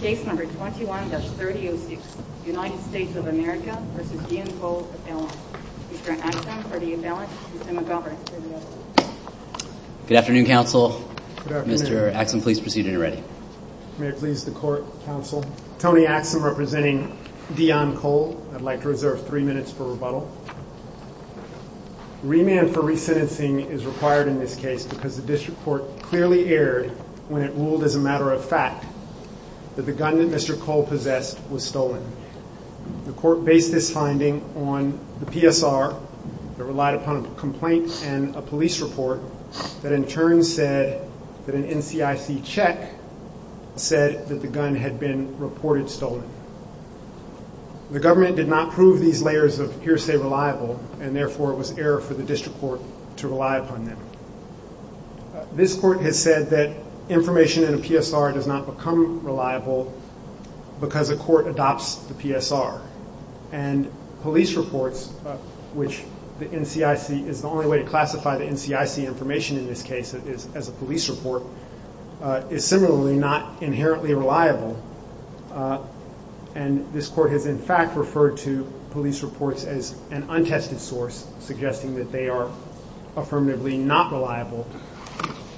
Case number 21-3006 United States of America v. Deon Cole, Appellant. Mr. Axsom for the appellant, Mr. McGovern for the appeal. Good afternoon, counsel. Mr. Axsom, please proceed when you're ready. May it please the court, counsel. Tony Axsom representing Deon Cole. I'd like to reserve three minutes for rebuttal. Remand for resentencing is required in this case because the district court clearly erred when it ruled as a matter of fact that the gun that Mr. Cole possessed was stolen. The court based this finding on the PSR that relied upon a complaint and a police report that in turn said that an NCIC check said that the gun had been reported stolen. The government did not prove these layers of hearsay reliable and therefore it was error for the district court to rely upon them. This court has said that information in a PSR does not become reliable because a court adopts the PSR. And police reports, which the NCIC is the only way to classify the NCIC information in this case as a police report, is similarly not inherently reliable. And this court has in fact referred to police reports as an untested source, suggesting that they are affirmatively not reliable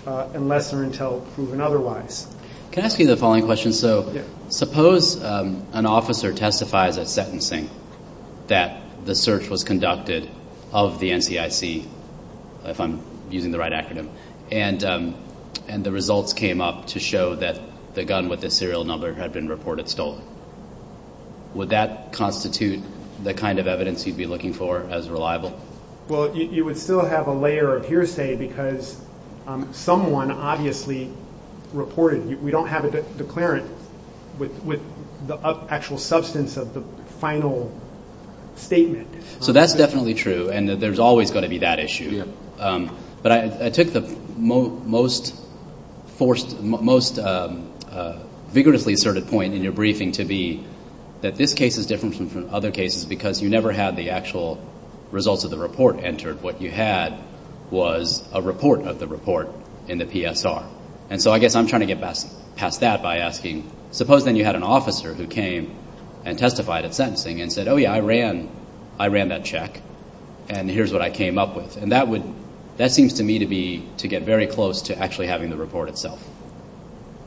unless they're until proven otherwise. Can I ask you the following question? So suppose an officer testifies at sentencing that the search was conducted of the NCIC, if I'm using the right acronym, and the results came up to show that the gun with the serial number had been reported stolen. Would that constitute the kind of evidence you'd be looking for as reliable? Well, you would still have a layer of hearsay because someone obviously reported. We don't have a declarant with the actual substance of the final statement. So that's definitely true, and there's always going to be that issue. But I took the most vigorously asserted point in your briefing to be that this case is different from other cases because you never had the actual results of the report entered. What you had was a report of the report in the PSR. And so I guess I'm trying to get past that by asking, suppose then you had an officer who came and testified at sentencing and said, oh, yeah, I ran that check, and here's what I came up with. And that would – that seems to me to be – to get very close to actually having the report itself.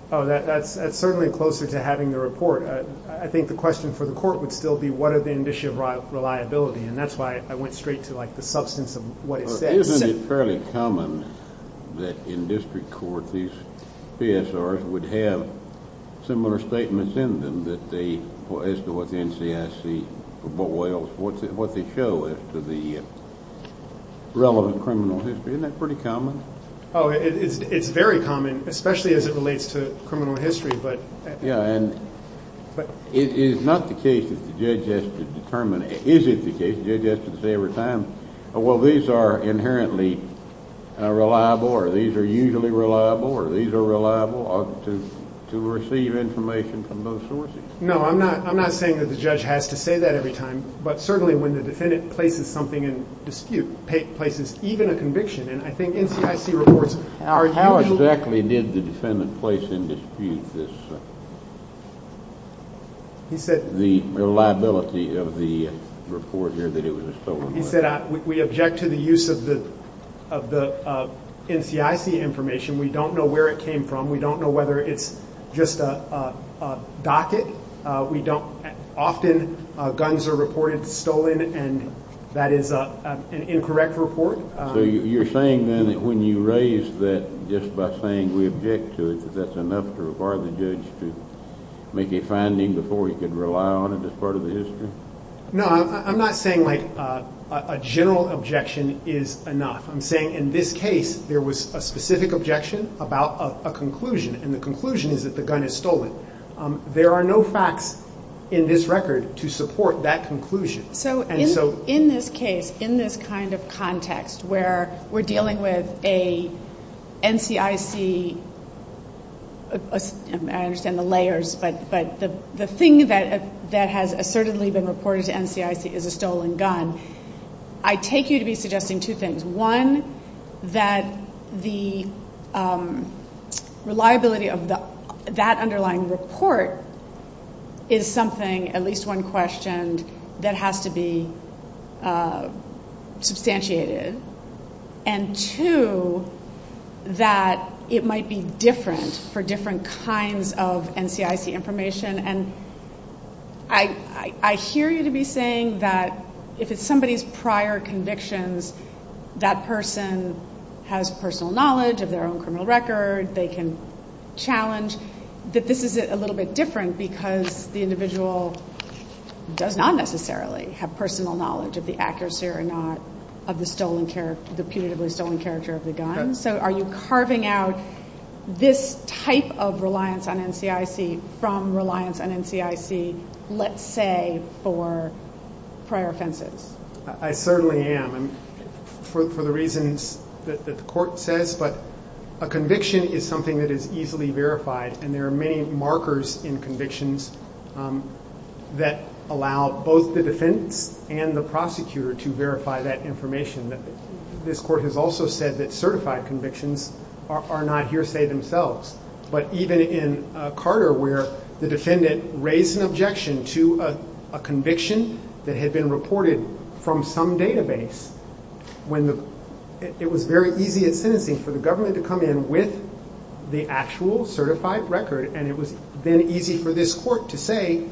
Oh, that's certainly closer to having the report. I think the question for the court would still be what are the indicia of reliability, and that's why I went straight to, like, the substance of what it said. Isn't it fairly common that in district court these PSRs would have similar statements in them that they – as to what the NCIC – what they show as to the relevant criminal history? Isn't that pretty common? Oh, it's very common, especially as it relates to criminal history. Yeah, and it is not the case that the judge has to determine – is it the case the judge has to say every time, oh, well, these are inherently reliable or these are usually reliable or these are reliable, to receive information from those sources? No, I'm not saying that the judge has to say that every time, but certainly when the defendant places something in dispute, places even a conviction, and I think NCIC reports – How exactly did the defendant place in dispute this – the reliability of the report here that it was a stolen weapon? He said we object to the use of the NCIC information. We don't know where it came from. We don't know whether it's just a docket. We don't – often guns are reported stolen, and that is an incorrect report. So you're saying then that when you raise that, just by saying we object to it, that that's enough to require the judge to make a finding before he could rely on it as part of the history? No, I'm not saying, like, a general objection is enough. I'm saying in this case there was a specific objection about a conclusion, and the conclusion is that the gun is stolen. There are no facts in this record to support that conclusion. So in this case, in this kind of context where we're dealing with a NCIC – I understand the layers, but the thing that has assertedly been reported to NCIC is a stolen gun, I take you to be suggesting two things. One, that the reliability of that underlying report is something, at least one questioned, that has to be substantiated. And two, that it might be different for different kinds of NCIC information. And I hear you to be saying that if it's somebody's prior convictions, that person has personal knowledge of their own criminal record. They can challenge that this is a little bit different because the individual does not necessarily have personal knowledge of the accuracy or not of the stolen – the punitively stolen character of the gun. So are you carving out this type of reliance on NCIC from reliance on NCIC, let's say, for prior offenses? I certainly am, for the reasons that the court says. But a conviction is something that is easily verified, and there are many markers in convictions that allow both the defense and the prosecutor to verify that information. This court has also said that certified convictions are not hearsay themselves. But even in Carter, where the defendant raised an objection to a conviction that had been reported from some database, it was very easy in sentencing for the government to come in with the actual certified record, and it was then easy for this court to say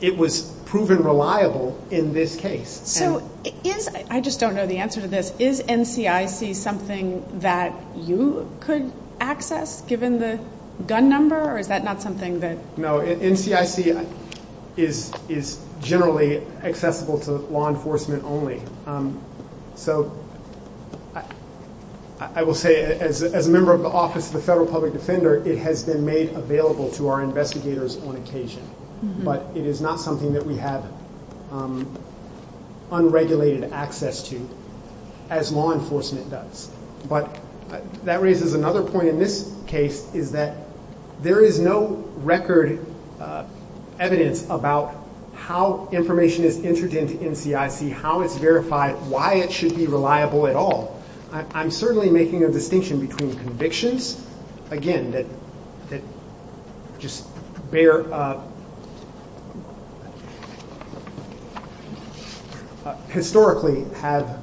it was proven reliable in this case. So is – I just don't know the answer to this – is NCIC something that you could access, given the gun number, or is that not something that – No, NCIC is generally accessible to law enforcement only. So I will say, as a member of the Office of the Federal Public Defender, it has been made available to our investigators on occasion. But it is not something that we have unregulated access to, as law enforcement does. But that raises another point in this case, is that there is no record evidence about how information is entered into NCIC, how it's verified, why it should be reliable at all. I'm certainly making a distinction between convictions, again, that just bear – historically have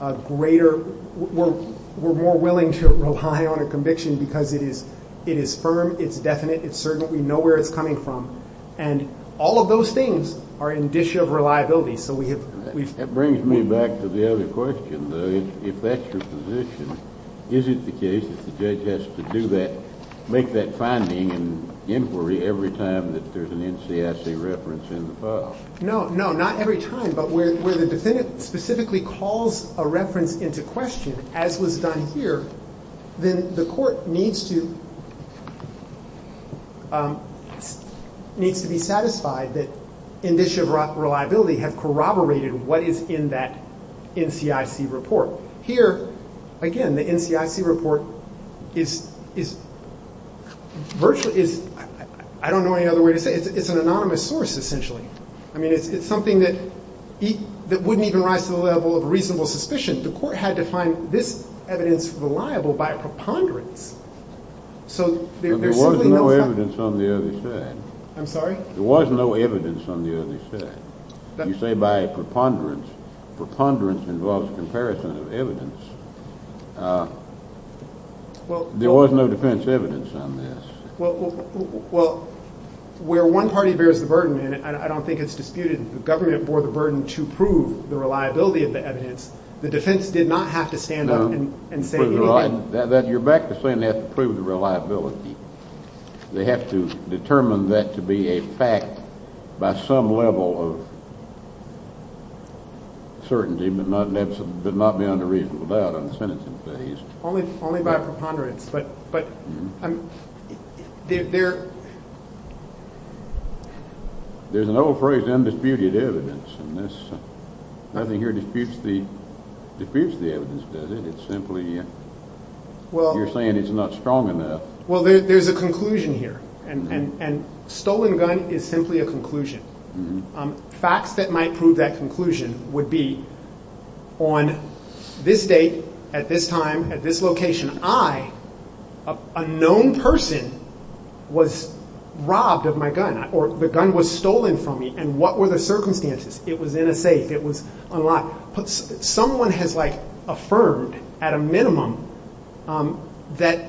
a greater – we're more willing to rely on a conviction because it is firm, it's definite, it's certain, we know where it's coming from. And all of those things are in the dish of reliability. That brings me back to the other question, though. If that's your position, is it the case that the judge has to do that – make that finding and inquiry every time that there's an NCIC reference in the file? No, no, not every time. But where the defendant specifically calls a reference into question, as was done here, then the court needs to be satisfied that in dish of reliability, have corroborated what is in that NCIC report. Here, again, the NCIC report is virtually – I don't know any other way to say it. It's an anonymous source, essentially. I mean, it's something that wouldn't even rise to the level of reasonable suspicion. The court had to find this evidence reliable by preponderance. So there's simply no – But there was no evidence on the other side. I'm sorry? There was no evidence on the other side. You say by preponderance. Preponderance involves comparison of evidence. There was no defense evidence on this. Well, where one party bears the burden, and I don't think it's disputed, the government bore the burden to prove the reliability of the evidence. The defense did not have to stand up and say anything. You're back to saying they have to prove the reliability. They have to determine that to be a fact by some level of certainty but not beyond a reasonable doubt on the sentencing phase. Only by preponderance, but there – There's an old phrase, undisputed evidence, and nothing here disputes the evidence, does it? It's simply – you're saying it's not strong enough. Well, there's a conclusion here, and stolen gun is simply a conclusion. Facts that might prove that conclusion would be on this date, at this time, at this location, I, a known person, was robbed of my gun, or the gun was stolen from me, and what were the circumstances? It was in a safe. It was unlocked. Someone has, like, affirmed at a minimum that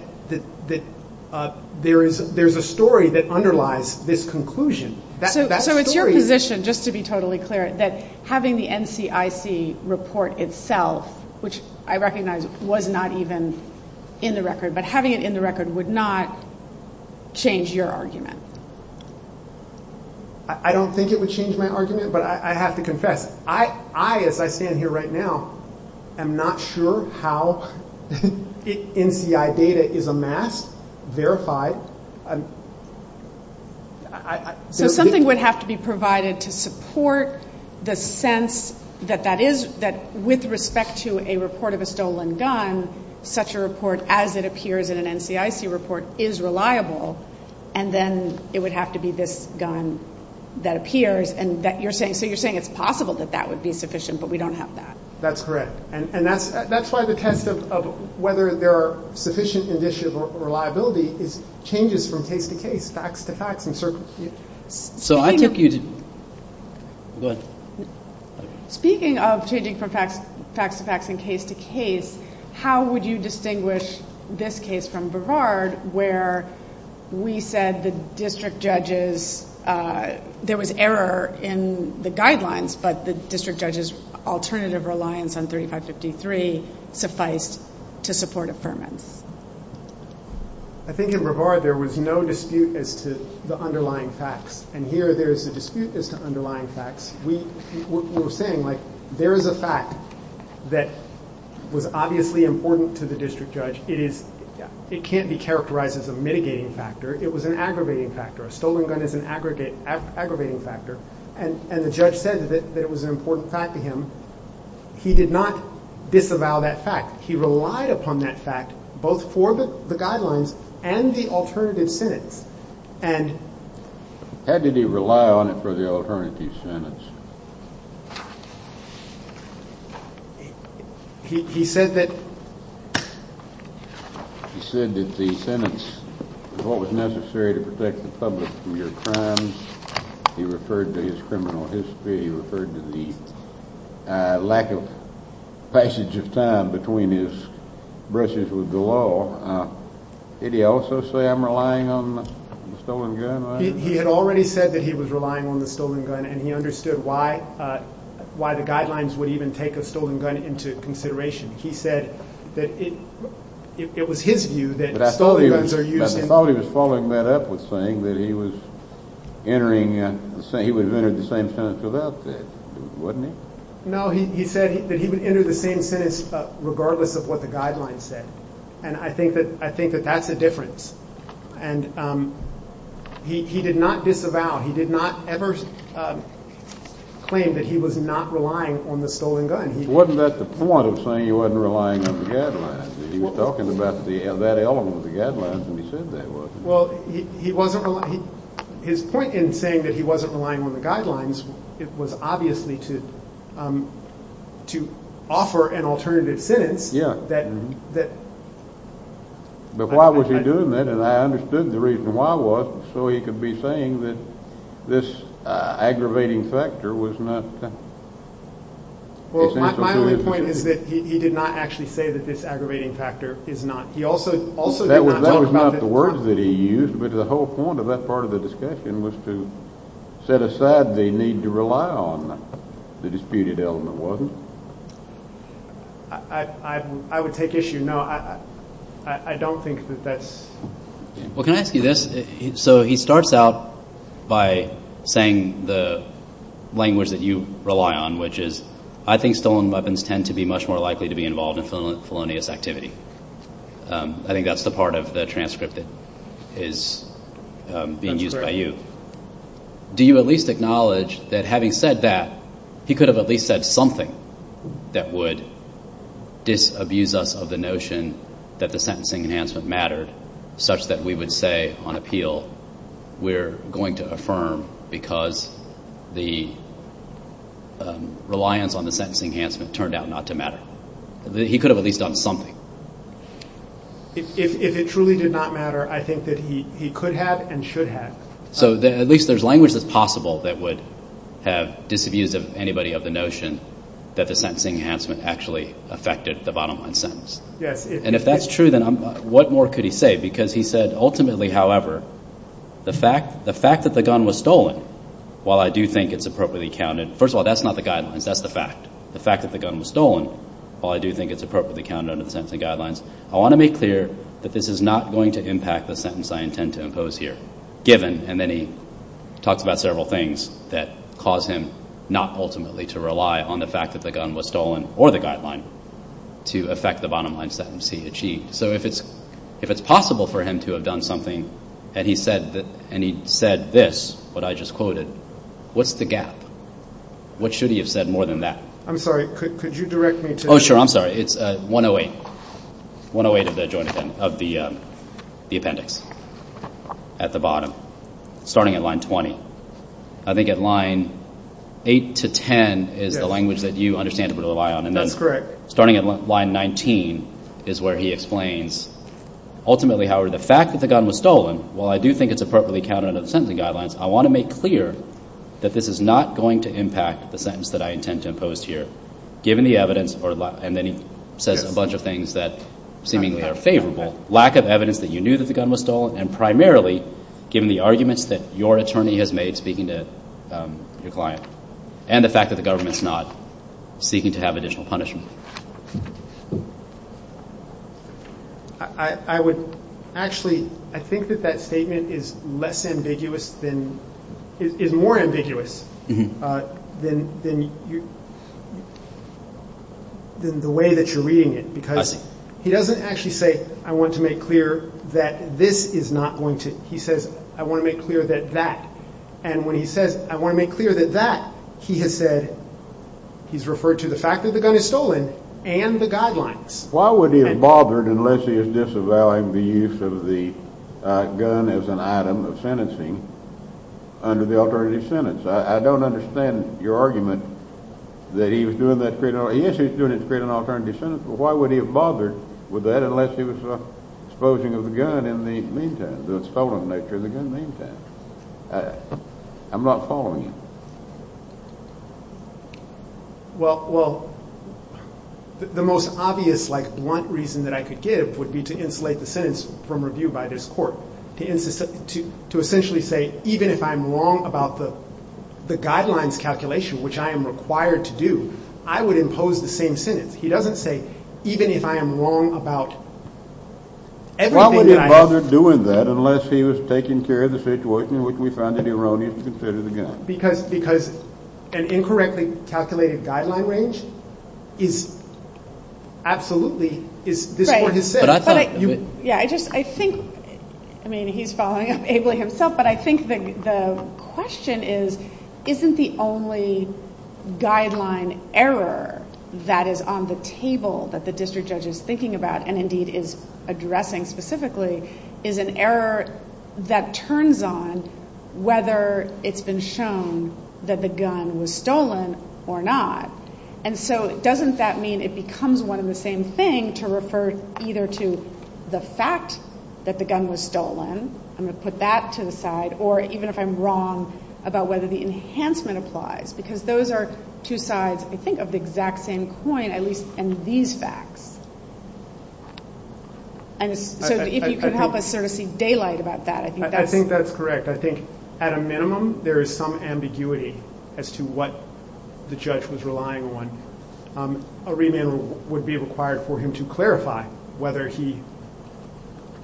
there is a story that underlies this conclusion. So it's your position, just to be totally clear, that having the NCIC report itself, which I recognize was not even in the record, but having it in the record would not change your argument? I don't think it would change my argument, but I have to confess, I, as I stand here right now, am not sure how NCI data is amassed, verified. So something would have to be provided to support the sense that that is – that with respect to a report of a stolen gun, such a report as it appears in an NCIC report is reliable, and then it would have to be this gun that appears, and that you're saying – so you're saying it's possible that that would be sufficient, but we don't have that. That's correct. And that's why the test of whether there are sufficient indicia of reliability is changes from case to case, facts to facts. So I take you to – go ahead. Speaking of changing from facts to facts and case to case, how would you distinguish this case from Brevard, where we said the district judge's – there was error in the guidelines, but the district judge's alternative reliance on 3553 sufficed to support affirmance? I think in Brevard there was no dispute as to the underlying facts, and here there is a dispute as to underlying facts. We were saying, like, there is a fact that was obviously important to the district judge. It is – it can't be characterized as a mitigating factor. It was an aggravating factor. A stolen gun is an aggravating factor, and the judge said that it was an important fact to him. He did not disavow that fact. He relied upon that fact both for the guidelines and the alternative sentence. And – How did he rely on it for the alternative sentence? He said that – He said that the sentence was what was necessary to protect the public from your crimes. He referred to his criminal history. He referred to the lack of passage of time between his brushes with the law. Did he also say, I'm relying on the stolen gun? He had already said that he was relying on the stolen gun, and he understood why the guidelines would even take a stolen gun into consideration. He said that it was his view that stolen guns are used in – I thought he was following that up with saying that he was entering – he would have entered the same sentence without that, wouldn't he? No, he said that he would enter the same sentence regardless of what the guidelines said. And I think that – I think that that's a difference. And he did not disavow. He did not ever claim that he was not relying on the stolen gun. Wasn't that the point of saying he wasn't relying on the guidelines? He was talking about that element of the guidelines, and he said that wasn't it. Well, he wasn't – his point in saying that he wasn't relying on the guidelines was obviously to offer an alternative sentence that – But why was he doing that? And I understood the reason why was so he could be saying that this aggravating factor was not – Well, my only point is that he did not actually say that this aggravating factor is not – he also did not talk about – That was not the words that he used, but the whole point of that part of the discussion was to set aside the need to rely on the disputed element, wasn't it? I would take issue – no, I don't think that that's – Well, can I ask you this? So he starts out by saying the language that you rely on, which is I think stolen weapons tend to be much more likely to be involved in felonious activity. I think that's the part of the transcript that is being used by you. That's correct. Do you at least acknowledge that having said that, he could have at least said something that would disabuse us of the notion that the sentencing enhancement mattered such that we would say on appeal we're going to affirm because the reliance on the sentencing enhancement turned out not to matter? He could have at least done something. If it truly did not matter, I think that he could have and should have. So at least there's language that's possible that would have disabused anybody of the notion that the sentencing enhancement actually affected the bottom line sentence. Yes. And if that's true, then what more could he say? Because he said, ultimately, however, the fact that the gun was stolen, while I do think it's appropriately counted – first of all, that's not the guidelines. That's the fact. The fact that the gun was stolen, while I do think it's appropriately counted under the sentencing guidelines, I want to make clear that this is not going to impact the sentence I intend to impose here, given – So if it's possible for him to have done something and he said this, what I just quoted, what's the gap? What should he have said more than that? I'm sorry. Could you direct me to – Oh, sure. I'm sorry. It's 108. 108 of the appendix at the bottom, starting at line 20. I think at line 8 to 10 is the language that you understandably rely on. That's correct. Starting at line 19 is where he explains, ultimately, however, the fact that the gun was stolen, while I do think it's appropriately counted under the sentencing guidelines, I want to make clear that this is not going to impact the sentence that I intend to impose here, given the evidence – and then he says a bunch of things that seemingly are favorable – lack of evidence that you knew that the gun was stolen, and primarily given the arguments that your attorney has made, speaking to your client, and the fact that the government's not seeking to have additional punishment. I would actually – I think that that statement is less ambiguous than – is more ambiguous than the way that you're reading it. I see. Because he doesn't actually say, I want to make clear that this is not going to – he says, I want to make clear that that. And when he says, I want to make clear that that, he has said, he's referred to the fact that the gun is stolen and the guidelines. Why would he have bothered, unless he is disavowing the use of the gun as an item of sentencing under the alternative sentence? I don't understand your argument that he was doing that to create – yes, he was doing it to create an alternative sentence, but why would he have bothered with that unless he was exposing the gun in the meantime, the stolen nature of the gun meantime? I'm not following you. Well, the most obvious, like, blunt reason that I could give would be to insulate the sentence from review by this court, to essentially say, even if I'm wrong about the guidelines calculation, which I am required to do, I would impose the same sentence. He doesn't say, even if I am wrong about everything that I – Why would he have bothered doing that unless he was taking care of the situation in which we found it erroneous to consider the gun? Because an incorrectly calculated guideline range is absolutely – is – this court has said. Yeah, I just – I think – I mean, he's following up ably himself, but I think the question is, isn't the only guideline error that is on the table that the district judge is thinking about and indeed is addressing specifically is an error that turns on whether it's been shown that the gun was stolen or not. And so doesn't that mean it becomes one and the same thing to refer either to the fact that the gun was stolen – I'm going to put that to the side – or even if I'm wrong about whether the enhancement applies? Because those are two sides, I think, of the exact same coin, at least in these facts. And so if you could help us sort of see daylight about that, I think that's – as to what the judge was relying on. A remand would be required for him to clarify whether he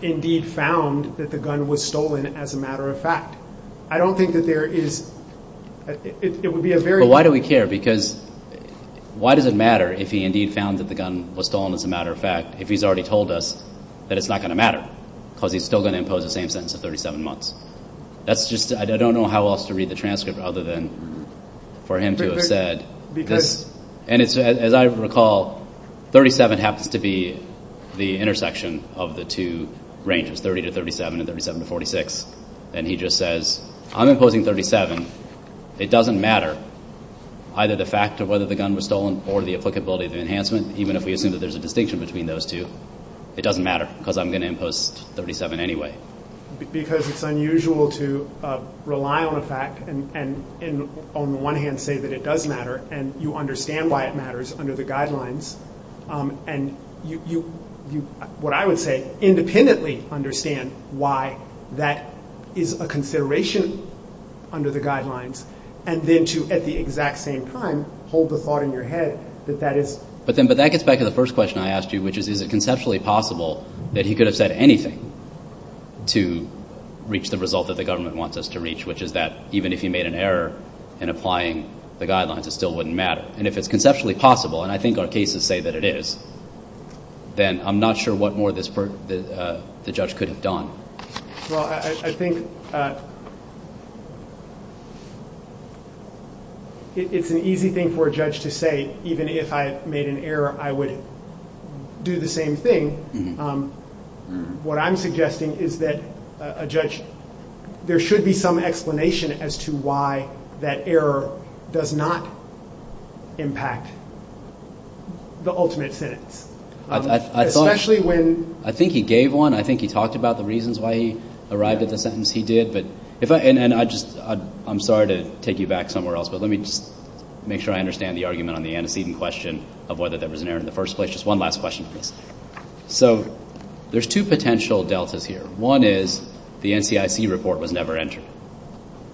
indeed found that the gun was stolen as a matter of fact. I don't think that there is – it would be a very – But why do we care? Because why does it matter if he indeed found that the gun was stolen as a matter of fact if he's already told us that it's not going to matter because he's still going to impose the same sentence of 37 months? That's just – I don't know how else to read the transcript other than for him to have said this. And as I recall, 37 happens to be the intersection of the two ranges, 30 to 37 and 37 to 46. And he just says, I'm imposing 37. It doesn't matter either the fact of whether the gun was stolen or the applicability of the enhancement, even if we assume that there's a distinction between those two. It doesn't matter because I'm going to impose 37 anyway. Because it's unusual to rely on a fact and on the one hand say that it does matter and you understand why it matters under the guidelines. And you, what I would say, independently understand why that is a consideration under the guidelines and then to at the exact same time hold the thought in your head that that is – But that gets back to the first question I asked you, which is is it conceptually possible that he could have said anything to reach the result that the government wants us to reach, which is that even if he made an error in applying the guidelines, it still wouldn't matter. And if it's conceptually possible, and I think our cases say that it is, then I'm not sure what more the judge could have done. Well, I think it's an easy thing for a judge to say even if I made an error, I would do the same thing. What I'm suggesting is that a judge, there should be some explanation as to why that error does not impact the ultimate sentence. Especially when – I think he gave one. I think he talked about the reasons why he arrived at the sentence he did. And I just, I'm sorry to take you back somewhere else, but let me just make sure I understand the argument on the antecedent question of whether there was an error in the first place. Just one last question, please. So there's two potential deltas here. One is the NCIC report was never entered.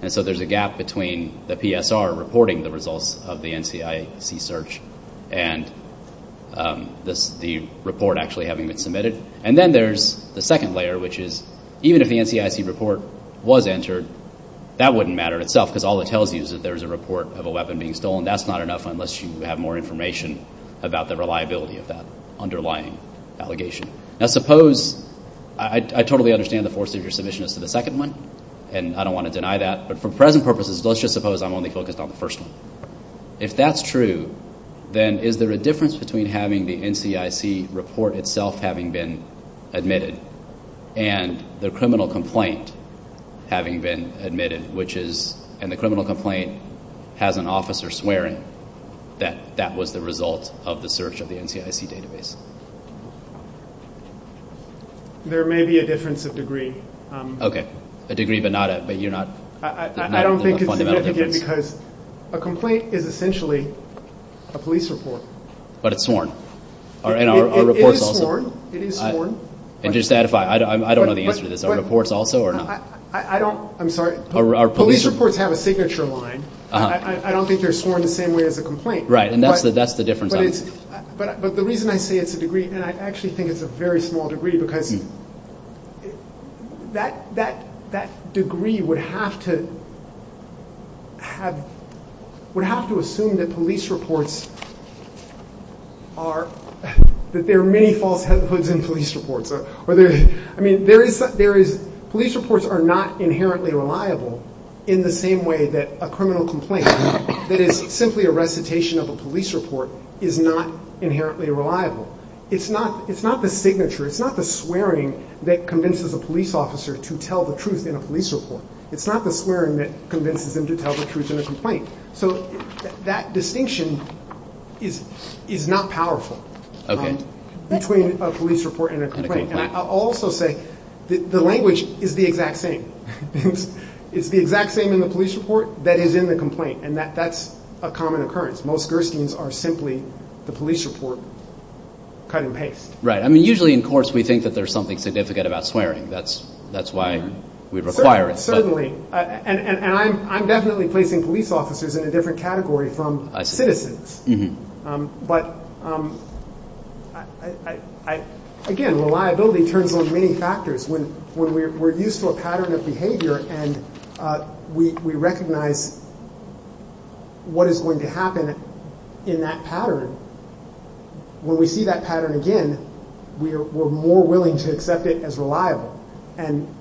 And so there's a gap between the PSR reporting the results of the NCIC search and the report actually having been submitted. And then there's the second layer, which is even if the NCIC report was entered, that wouldn't matter itself because all it tells you is that there's a report of a weapon being stolen. That's not enough unless you have more information about the reliability of that underlying allegation. Now suppose – I totally understand the force of your submission as to the second one, and I don't want to deny that. But for present purposes, let's just suppose I'm only focused on the first one. If that's true, then is there a difference between having the NCIC report itself having been admitted and the criminal complaint having been admitted, which is – and the criminal complaint has an officer swearing that that was the result of the search of the NCIC database? There may be a difference of degree. Okay, a degree but not a – but you're not – I don't think it's significant because a complaint is essentially a police report. But it's sworn. It is sworn. And just to addify, I don't know the answer to this. Are reports also or not? I don't – I'm sorry. Police reports have a signature line. I don't think they're sworn the same way as a complaint. Right, and that's the difference. But the reason I say it's a degree, and I actually think it's a very small degree, because that degree would have to have – would have to assume that police reports are – that there are many falsehoods in police reports. I mean, there is – police reports are not inherently reliable in the same way that a criminal complaint that is simply a recitation of a police report is not inherently reliable. It's not the signature. It's not the swearing that convinces a police officer to tell the truth in a police report. It's not the swearing that convinces them to tell the truth in a complaint. So that distinction is not powerful between a police report and a complaint. And I'll also say the language is the exact same. It's the exact same in the police report that is in the complaint, and that's a common occurrence. Most Gersteins are simply the police report cut and paste. Right. I mean, usually in courts we think that there's something significant about swearing. That's why we require it. Certainly. And I'm definitely placing police officers in a different category from citizens. I see. But, again, reliability turns on many factors. When we're used to a pattern of behavior and we recognize what is going to happen in that pattern, when we see that pattern again, we're more willing to accept it as reliable. And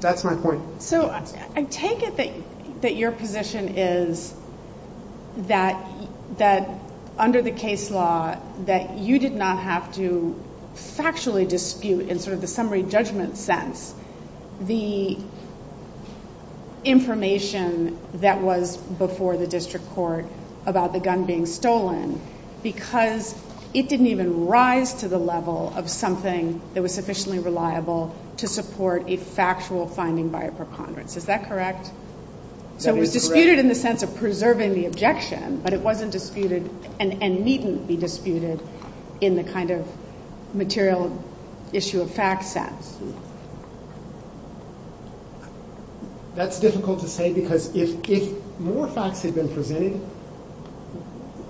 that's my point. So I take it that your position is that under the case law, that you did not have to factually dispute in sort of the summary judgment sense the information that was before the district court about the gun being stolen because it didn't even rise to the level of something that was sufficiently reliable to support a factual finding by a preponderance. Is that correct? That is correct. So it was disputed in the sense of preserving the objection, but it wasn't disputed and needn't be disputed in the kind of material issue of fact sense. That's difficult to say because if more facts had been presented,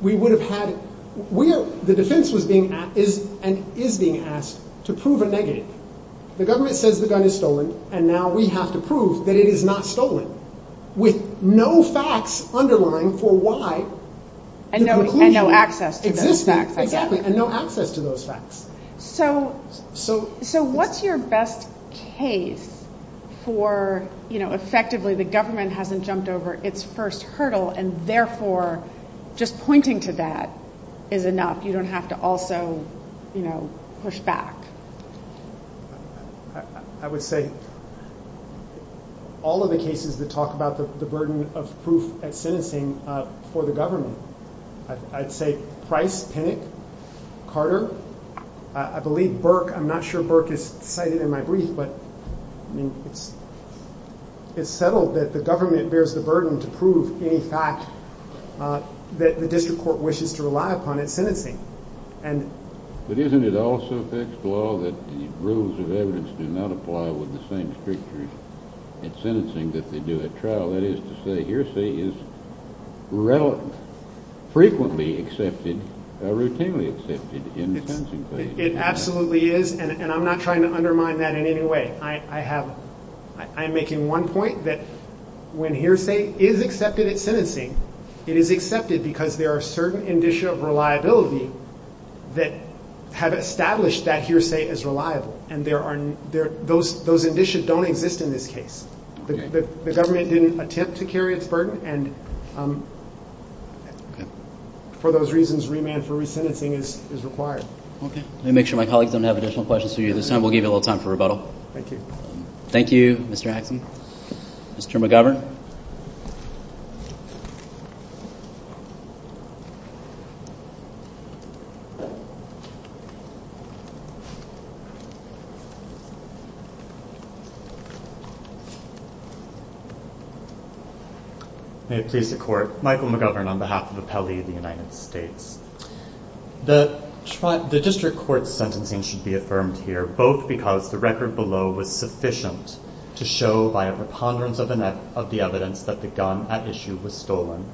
we would have had, the defense is being asked to prove a negative. The government says the gun is stolen and now we have to prove that it is not stolen with no facts underlying for why the conclusion exists. And no access to those facts. Exactly. And no access to those facts. So what's your best case for, you know, effectively the government hasn't jumped over its first hurdle and therefore just pointing to that is enough. You don't have to also, you know, push back. I would say all of the cases that talk about the burden of proof at sentencing for the government. I'd say Price, Pinnock, Carter, I believe Burke. I'm not sure Burke is cited in my brief, but I mean it's settled that the government bears the burden to prove any fact that the district court wishes to rely upon at sentencing. But isn't it also fixed law that the rules of evidence do not apply with the same stricture at sentencing that they do at trial? That is to say hearsay is frequently accepted, routinely accepted in sentencing. It absolutely is, and I'm not trying to undermine that in any way. I have, I'm making one point that when hearsay is accepted at sentencing, it is accepted because there are certain indicia of reliability that have established that hearsay as reliable. And there are, those indicia don't exist in this case. The government didn't attempt to carry its burden, and for those reasons remand for resentencing is required. Let me make sure my colleagues don't have additional questions for you. This time we'll give you a little time for rebuttal. Thank you. Thank you, Mr. Axon. Mr. McGovern. May it please the court. Michael McGovern on behalf of Appellee of the United States. The district court's sentencing should be affirmed here, both because the record below was sufficient to show by a preponderance of the evidence that the gun at issue was stolen,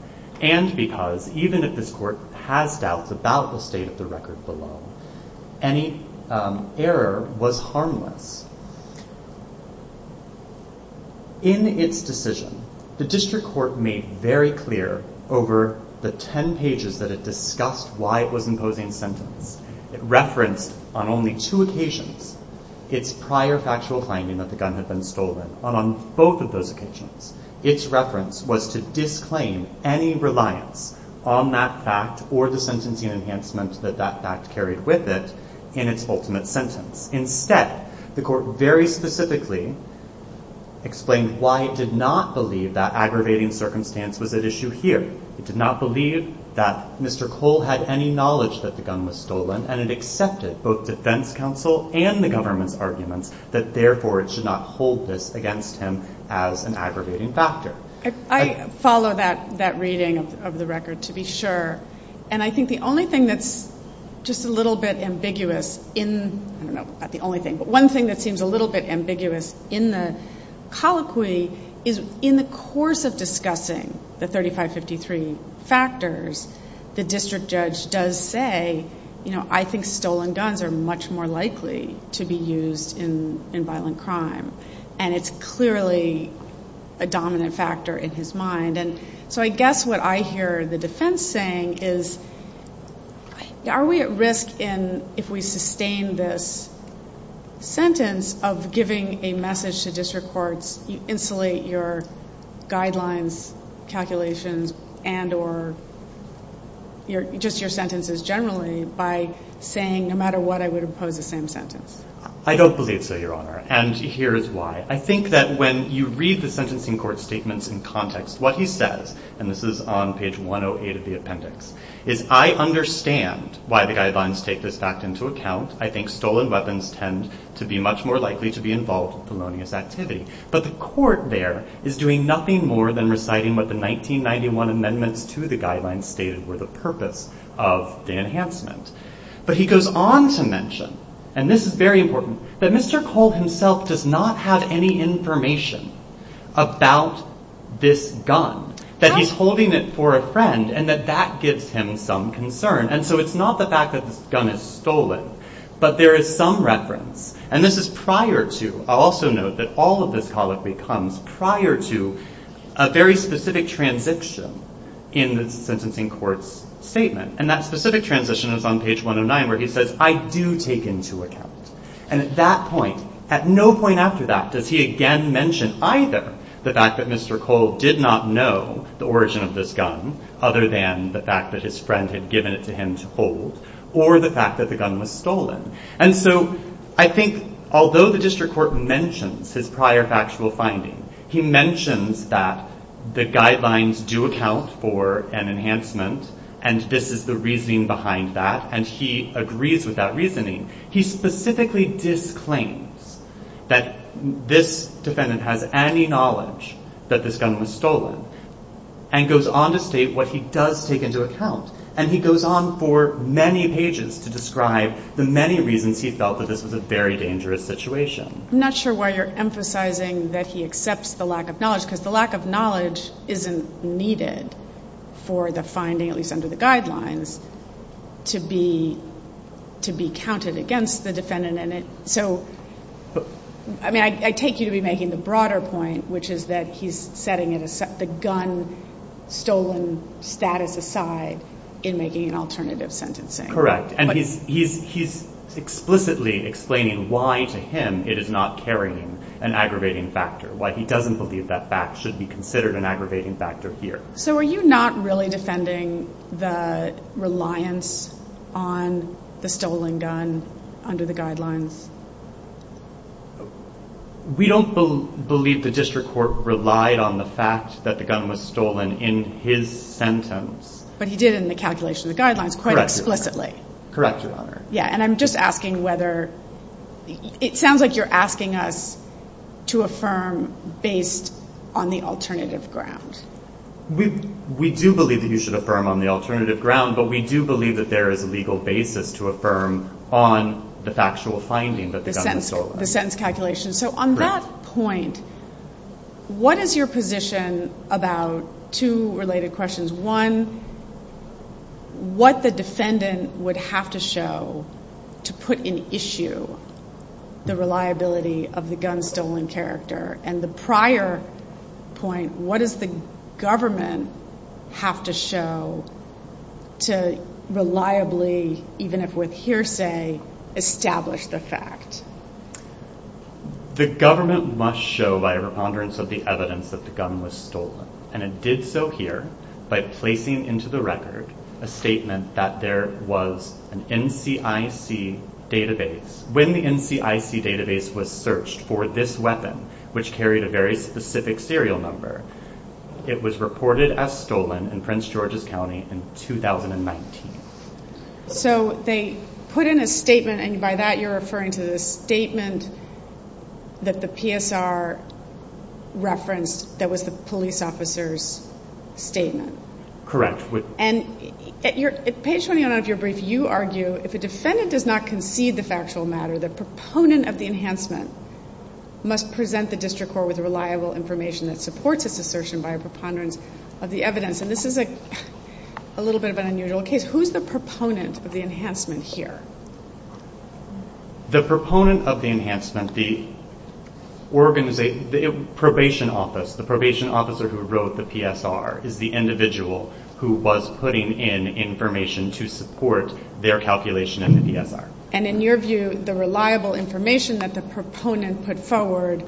and because even if this court has doubts about the state of the record below, any error was harmless. In its decision, the district court made very clear over the ten pages that it discussed why it was imposing sentence. It referenced on only two occasions its prior factual finding that the gun had been stolen. And on both of those occasions, its reference was to disclaim any reliance on that fact or the sentencing enhancement that that fact carried with it in its ultimate sentence. Instead, the court very specifically explained why it did not believe that aggravating circumstance was at issue here. It did not believe that Mr. Cole had any knowledge that the gun was stolen, and it accepted both defense counsel and the government's arguments that therefore it should not hold this against him as an aggravating factor. I follow that reading of the record, to be sure. And I think the only thing that's just a little bit ambiguous in, I don't know, not the only thing, but one thing that seems a little bit ambiguous in the colloquy is in the course of discussing the 3553 factors, the district judge does say, you know, I think stolen guns are much more likely to be used in violent crime, and it's clearly a dominant factor in his mind. And so I guess what I hear the defense saying is, are we at risk if we sustain this sentence of giving a message to district courts, you insulate your guidelines, calculations, and or just your sentences generally by saying, no matter what, I would oppose the same sentence. I don't believe so, Your Honor, and here is why. I think that when you read the sentencing court's statements in context, what he says, and this is on page 108 of the appendix, is I understand why the guidelines take this fact into account. I think stolen weapons tend to be much more likely to be involved in felonious activity. But the court there is doing nothing more than reciting what the 1991 amendments to the guidelines stated were the purpose of the enhancement. But he goes on to mention, and this is very important, that Mr. Cole himself does not have any information about this gun, that he's holding it for a friend, and that that gives him some concern. And so it's not the fact that this gun is stolen, but there is some reference. And this is prior to, I'll also note that all of this colloquy comes prior to a very specific transition in the sentencing court's statement. And that specific transition is on page 109 where he says, I do take into account. And at that point, at no point after that, does he again mention either the fact that Mr. Cole did not know the origin of this gun, other than the fact that his friend had given it to him to hold, or the fact that the gun was stolen. And so I think although the district court mentions his prior factual finding, he mentions that the guidelines do account for an enhancement, and this is the reasoning behind that, and he agrees with that reasoning, he specifically disclaims that this defendant has any knowledge that this gun was stolen, and goes on to state what he does take into account. And he goes on for many pages to describe the many reasons he felt that this was a very dangerous situation. I'm not sure why you're emphasizing that he accepts the lack of knowledge, because the lack of knowledge isn't needed for the finding, at least under the guidelines, to be counted against the defendant. So I take you to be making the broader point, which is that he's setting the gun-stolen status aside in making an alternative sentencing. Correct. And he's explicitly explaining why to him it is not carrying an aggravating factor, why he doesn't believe that fact should be considered an aggravating factor here. So are you not really defending the reliance on the stolen gun under the guidelines? We don't believe the district court relied on the fact that the gun was stolen in his sentence. But he did in the calculation of the guidelines quite explicitly. Correct, Your Honor. Yeah, and I'm just asking whether... It sounds like you're asking us to affirm based on the alternative ground. We do believe that you should affirm on the alternative ground, but we do believe that there is a legal basis to affirm on the factual finding that the gun was stolen. The sentence calculation. So on that point, what is your position about two related questions? One, what the defendant would have to show to put in issue the reliability of the gun-stolen character? And the prior point, what does the government have to show to reliably, even if with hearsay, establish the fact? The government must show by a preponderance of the evidence that the gun was stolen. And it did so here by placing into the record a statement that there was an NCIC database. When the NCIC database was searched for this weapon, which carried a very specific serial number, it was reported as stolen in Prince George's County in 2019. So they put in a statement, and by that you're referring to the statement that the PSR referenced that was the police officer's statement. Correct. And at page 29 of your brief, you argue, if a defendant does not concede the factual matter, the proponent of the enhancement must present the district court with reliable information that supports this assertion by a preponderance of the evidence. And this is a little bit of an unusual case. Who's the proponent of the enhancement here? The proponent of the enhancement, the probation officer who wrote the PSR is the individual who was putting in information to support their calculation in the PSR. And in your view, the reliable information that the proponent put forward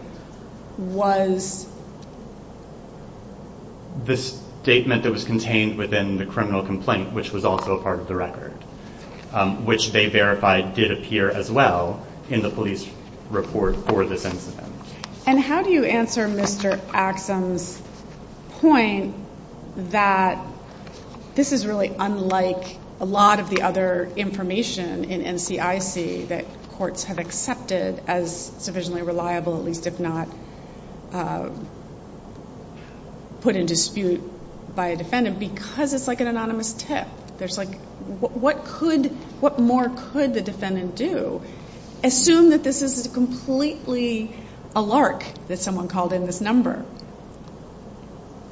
was? The statement that was contained within the criminal complaint, which was also a part of the record, which they verified did appear as well in the police report for this incident. And how do you answer Mr. Axsom's point that this is really unlike a lot of the other information in NCIC that courts have accepted as sufficiently reliable, at least if not put in dispute by a defendant, because it's like an anonymous tip? What more could the defendant do? Assume that this is completely a lark that someone called in this number.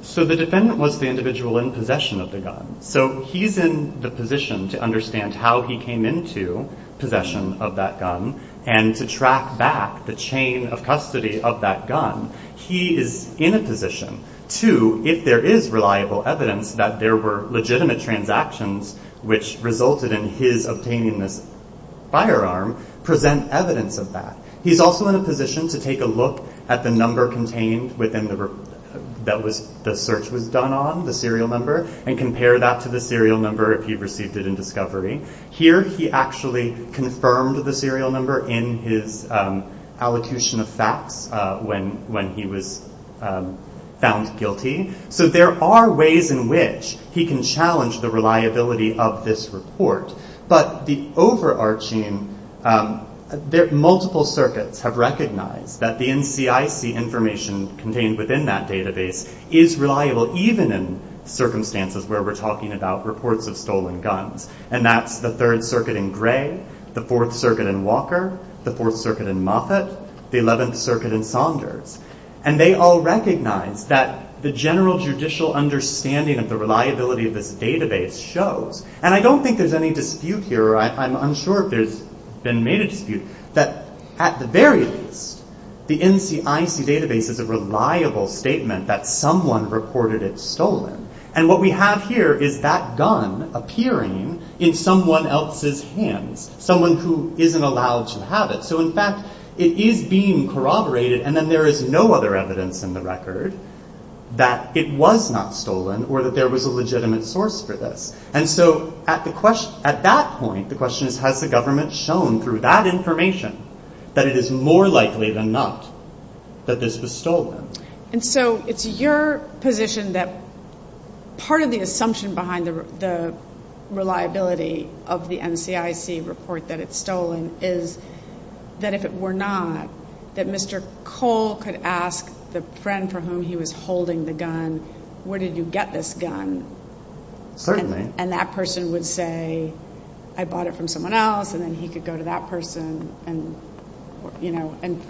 So the defendant was the individual in possession of the gun. So he's in the position to understand how he came into possession of that gun and to track back the chain of custody of that gun. He is in a position to, if there is reliable evidence that there were legitimate transactions which resulted in his obtaining this firearm, present evidence of that. He's also in a position to take a look at the number contained that the search was done on, the serial number, and compare that to the serial number if he received it in discovery. Here he actually confirmed the serial number in his allocution of facts when he was found guilty. So there are ways in which he can challenge the reliability of this report. But the overarching... Multiple circuits have recognized that the NCIC information contained within that database is reliable even in circumstances where we're talking about reports of stolen guns. And that's the 3rd Circuit in Gray, the 4th Circuit in Walker, the 4th Circuit in Moffat, the 11th Circuit in Saunders. And they all recognize that the general judicial understanding of the reliability of this database shows. And I don't think there's any dispute here, or I'm unsure if there's been made a dispute, that at the very least, the NCIC database is a reliable statement that someone reported it stolen. And what we have here is that gun appearing in someone else's hands, someone who isn't allowed to have it. So in fact, it is being corroborated, and then there is no other evidence in the record that it was not stolen or that there was a legitimate source for this. And so at that point, the question is, has the government shown through that information that it is more likely than not that this was stolen? And so it's your position that part of the assumption behind the reliability of the NCIC report that it's stolen is that if it were not, that Mr. Cole could ask the friend for whom he was holding the gun, where did you get this gun? Certainly. And that person would say, I bought it from someone else, and then he could go to that person and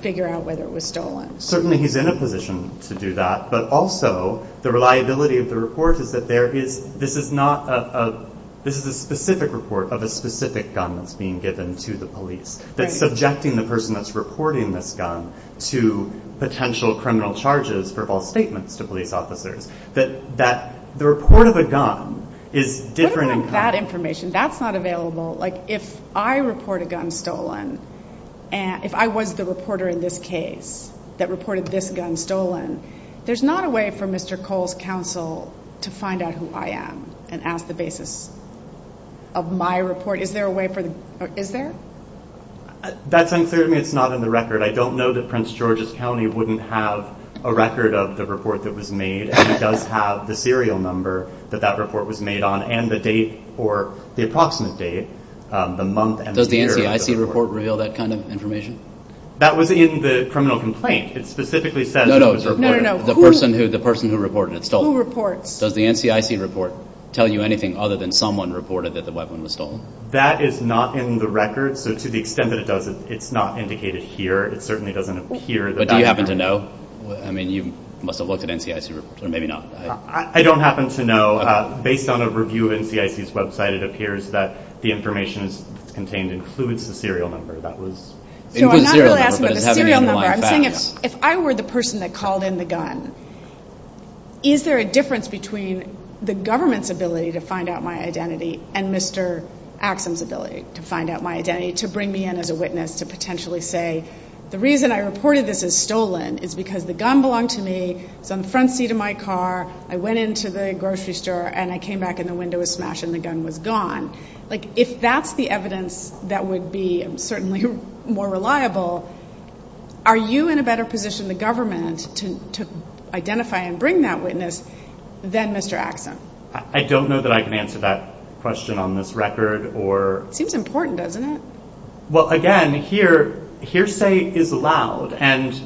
figure out whether it was stolen. Certainly he's in a position to do that, but also the reliability of the report is that this is a specific report of a specific gun that's being given to the police. That's subjecting the person that's reporting this gun to potential criminal charges for false statements to police officers. The report of a gun is different. What about that information? That's not available. If I report a gun stolen, if I was the reporter in this case that reported this gun stolen, there's not a way for Mr. Cole's counsel to find out who I am and ask the basis of my report. Is there a way for the—is there? That's unclear to me. It's not in the record. I don't know that Prince George's County wouldn't have a record of the report that was made, and he does have the serial number that that report was made on and the date or the approximate date, the month and the year of the report. Does the NCIC report reveal that kind of information? That was in the criminal complaint. It specifically says who was reporting. No, no, no, the person who reported it. Who reports? Does the NCIC report tell you anything other than someone reported that the weapon was stolen? That is not in the record, so to the extent that it does, it's not indicated here. It certainly doesn't appear that— Do you happen to know? I mean, you must have looked at NCIC reports, or maybe not. I don't happen to know. Based on a review of NCIC's website, it appears that the information that's contained includes the serial number. So I'm not really asking about the serial number. I'm saying if I were the person that called in the gun, is there a difference between the government's ability to find out my identity and Mr. Axsom's ability to find out my identity to bring me in as a witness to potentially say the reason I reported this as stolen is because the gun belonged to me. It was on the front seat of my car. I went into the grocery store, and I came back, and the window was smashed, and the gun was gone. If that's the evidence that would be certainly more reliable, are you in a better position, the government, to identify and bring that witness than Mr. Axsom? I don't know that I can answer that question on this record. It seems important, doesn't it? Well, again, hearsay is loud.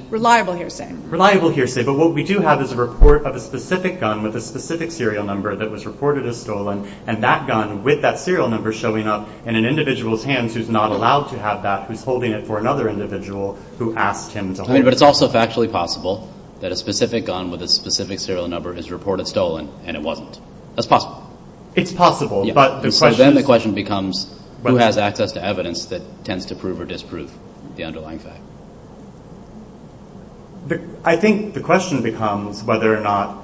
Reliable hearsay. Reliable hearsay, but what we do have is a report of a specific gun with a specific serial number that was reported as stolen, and that gun with that serial number showing up in an individual's hands who's not allowed to have that, who's holding it for another individual who asked him to hold it. But it's also factually possible that a specific gun with a specific serial number is reported stolen, and it wasn't. That's possible. It's possible. So then the question becomes who has access to evidence that tends to prove or disprove the underlying fact? I think the question becomes whether or not,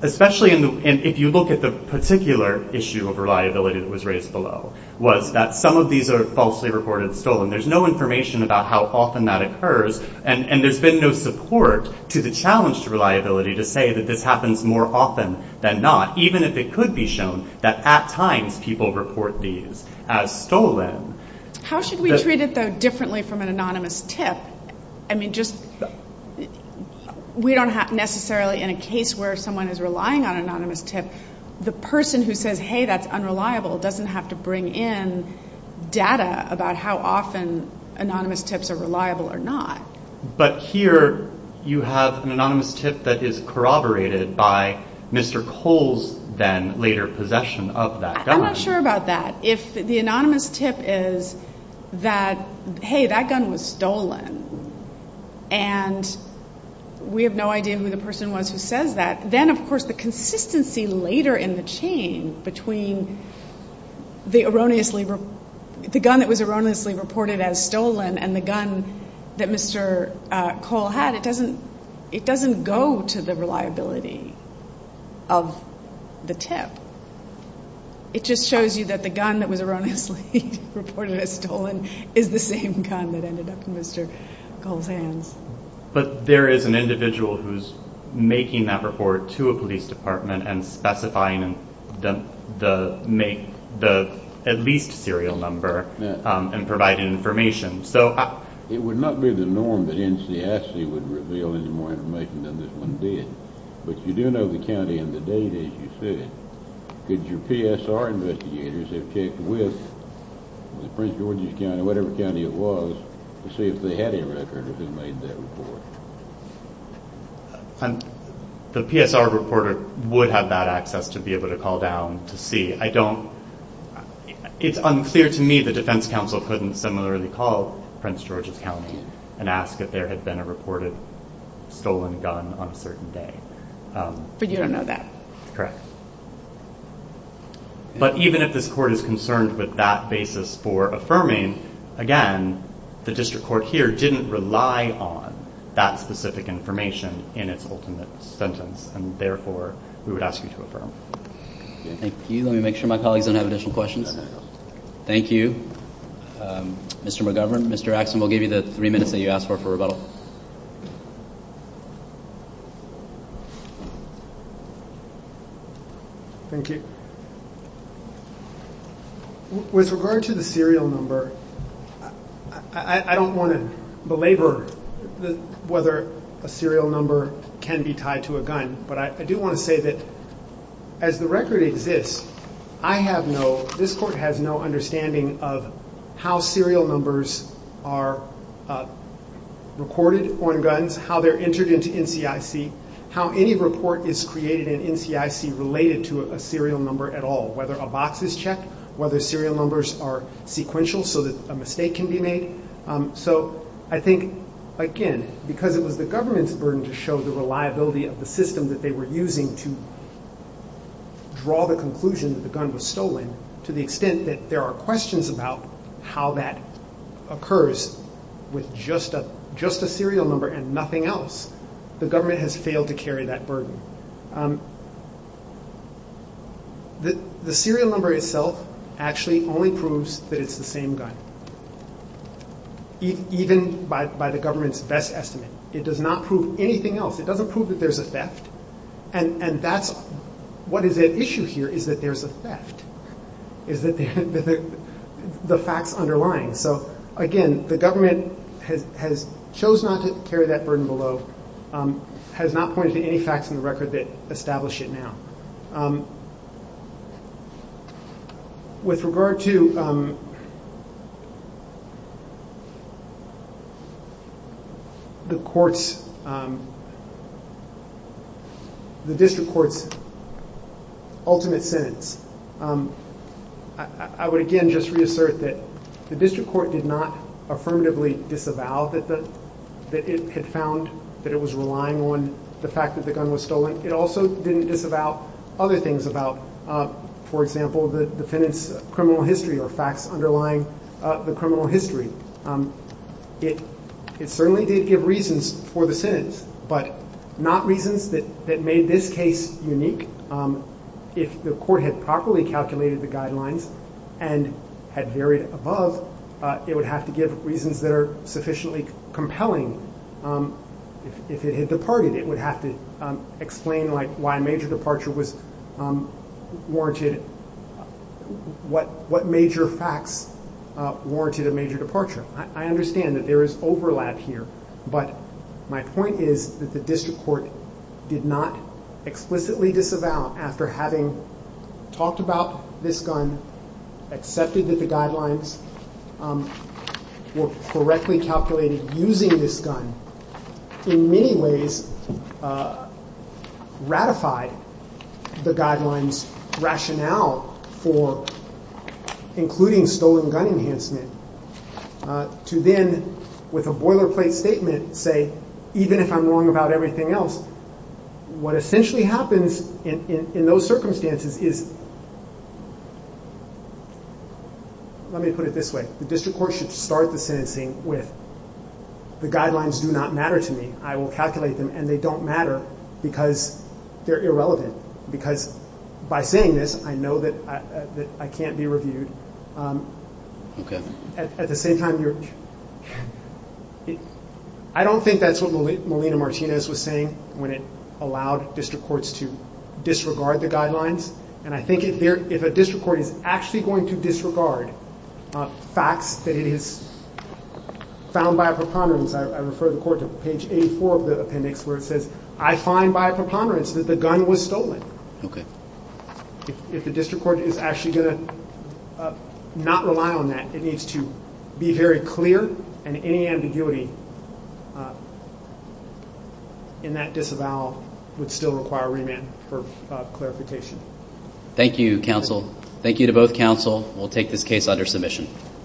especially if you look at the particular issue of reliability that was raised below, was that some of these are falsely reported stolen. There's no information about how often that occurs, and there's been no support to the challenge to reliability to say that this happens more often than not, even if it could be shown that at times people report these as stolen. How should we treat it, though, differently from an anonymous tip? I mean, we don't necessarily, in a case where someone is relying on an anonymous tip, the person who says, hey, that's unreliable, doesn't have to bring in data about how often anonymous tips are reliable or not. But here you have an anonymous tip that is corroborated by Mr. Cole's then later possession of that gun. I'm not sure about that. If the anonymous tip is that, hey, that gun was stolen, and we have no idea who the person was who says that, then, of course, the consistency later in the chain between the gun that was erroneously reported as stolen and the gun that Mr. Cole had, it doesn't go to the reliability of the tip. It just shows you that the gun that was erroneously reported as stolen is the same gun that ended up in Mr. Cole's hands. But there is an individual who's making that report to a police department and specifying the at least serial number and providing information. It would not be the norm that NCIC would reveal any more information than this one did, but you do know the county and the date, as you said. Could your PSR investigators have checked with the Prince George's County, whatever county it was, to see if they had a record of who made that report? The PSR reporter would have that access to be able to call down to see. It's unclear to me the defense counsel couldn't similarly call Prince George's County and ask if there had been a reported stolen gun on a certain day. But you don't know that. Correct. But even if this court is concerned with that basis for affirming, again, the district court here didn't rely on that specific information in its ultimate sentence, and therefore we would ask you to affirm. Thank you. Let me make sure my colleagues don't have additional questions. Thank you, Mr. McGovern. Mr. Axon, we'll give you the three minutes that you asked for for rebuttal. Thank you. With regard to the serial number, I don't want to belabor whether a serial number can be tied to a gun, but I do want to say that as the record exists, this court has no understanding of how serial numbers are recorded on guns, how they're entered into NCIC, how any report is created in NCIC related to a serial number at all, whether a box is checked, whether serial numbers are sequential so that a mistake can be made. So I think, again, because it was the government's burden to show the reliability of the system that they were using to draw the conclusion that the gun was stolen, to the extent that there are questions about how that occurs with just a serial number and nothing else, the government has failed to carry that burden. The serial number itself actually only proves that it's the same gun, even by the government's best estimate. It does not prove anything else. It doesn't prove that there's a theft, and what is at issue here is that there's a theft, is that the facts underlying. So, again, the government has chosen not to carry that burden below, has not pointed to any facts in the record that establish it now. With regard to the district court's ultimate sentence, I would, again, just reassert that the district court did not affirmatively disavow that it had found that it was relying on the fact that the gun was stolen. It also didn't disavow other things about, for example, the defendant's criminal history or facts underlying the criminal history. It certainly did give reasons for the sentence, but not reasons that made this case unique. If the court had properly calculated the guidelines and had varied above, it would have to give reasons that are sufficiently compelling. If it had departed, it would have to explain why a major departure was warranted, what major facts warranted a major departure. I understand that there is overlap here, but my point is that the district court did not explicitly disavow after having talked about this gun, accepted that the guidelines were correctly calculated using this gun, in many ways ratified the guidelines rationale for including stolen gun enhancement. To then, with a boilerplate statement, say, even if I'm wrong about everything else, what essentially happens in those circumstances is, let me put it this way. The district court should start the sentencing with, the guidelines do not matter to me. I will calculate them, and they don't matter because they're irrelevant. Because by saying this, I know that I can't be reviewed. Okay. At the same time, I don't think that's what Melina Martinez was saying when it allowed district courts to disregard the guidelines, and I think if a district court is actually going to disregard facts that it has found by a preponderance, I refer the court to page 84 of the appendix where it says, I find by a preponderance that the gun was stolen. Okay. If the district court is actually going to not rely on that, it needs to be very clear, and any ambiguity in that disavowal would still require remand for clarification. Thank you, counsel. Thank you to both counsel. We'll take this case under submission.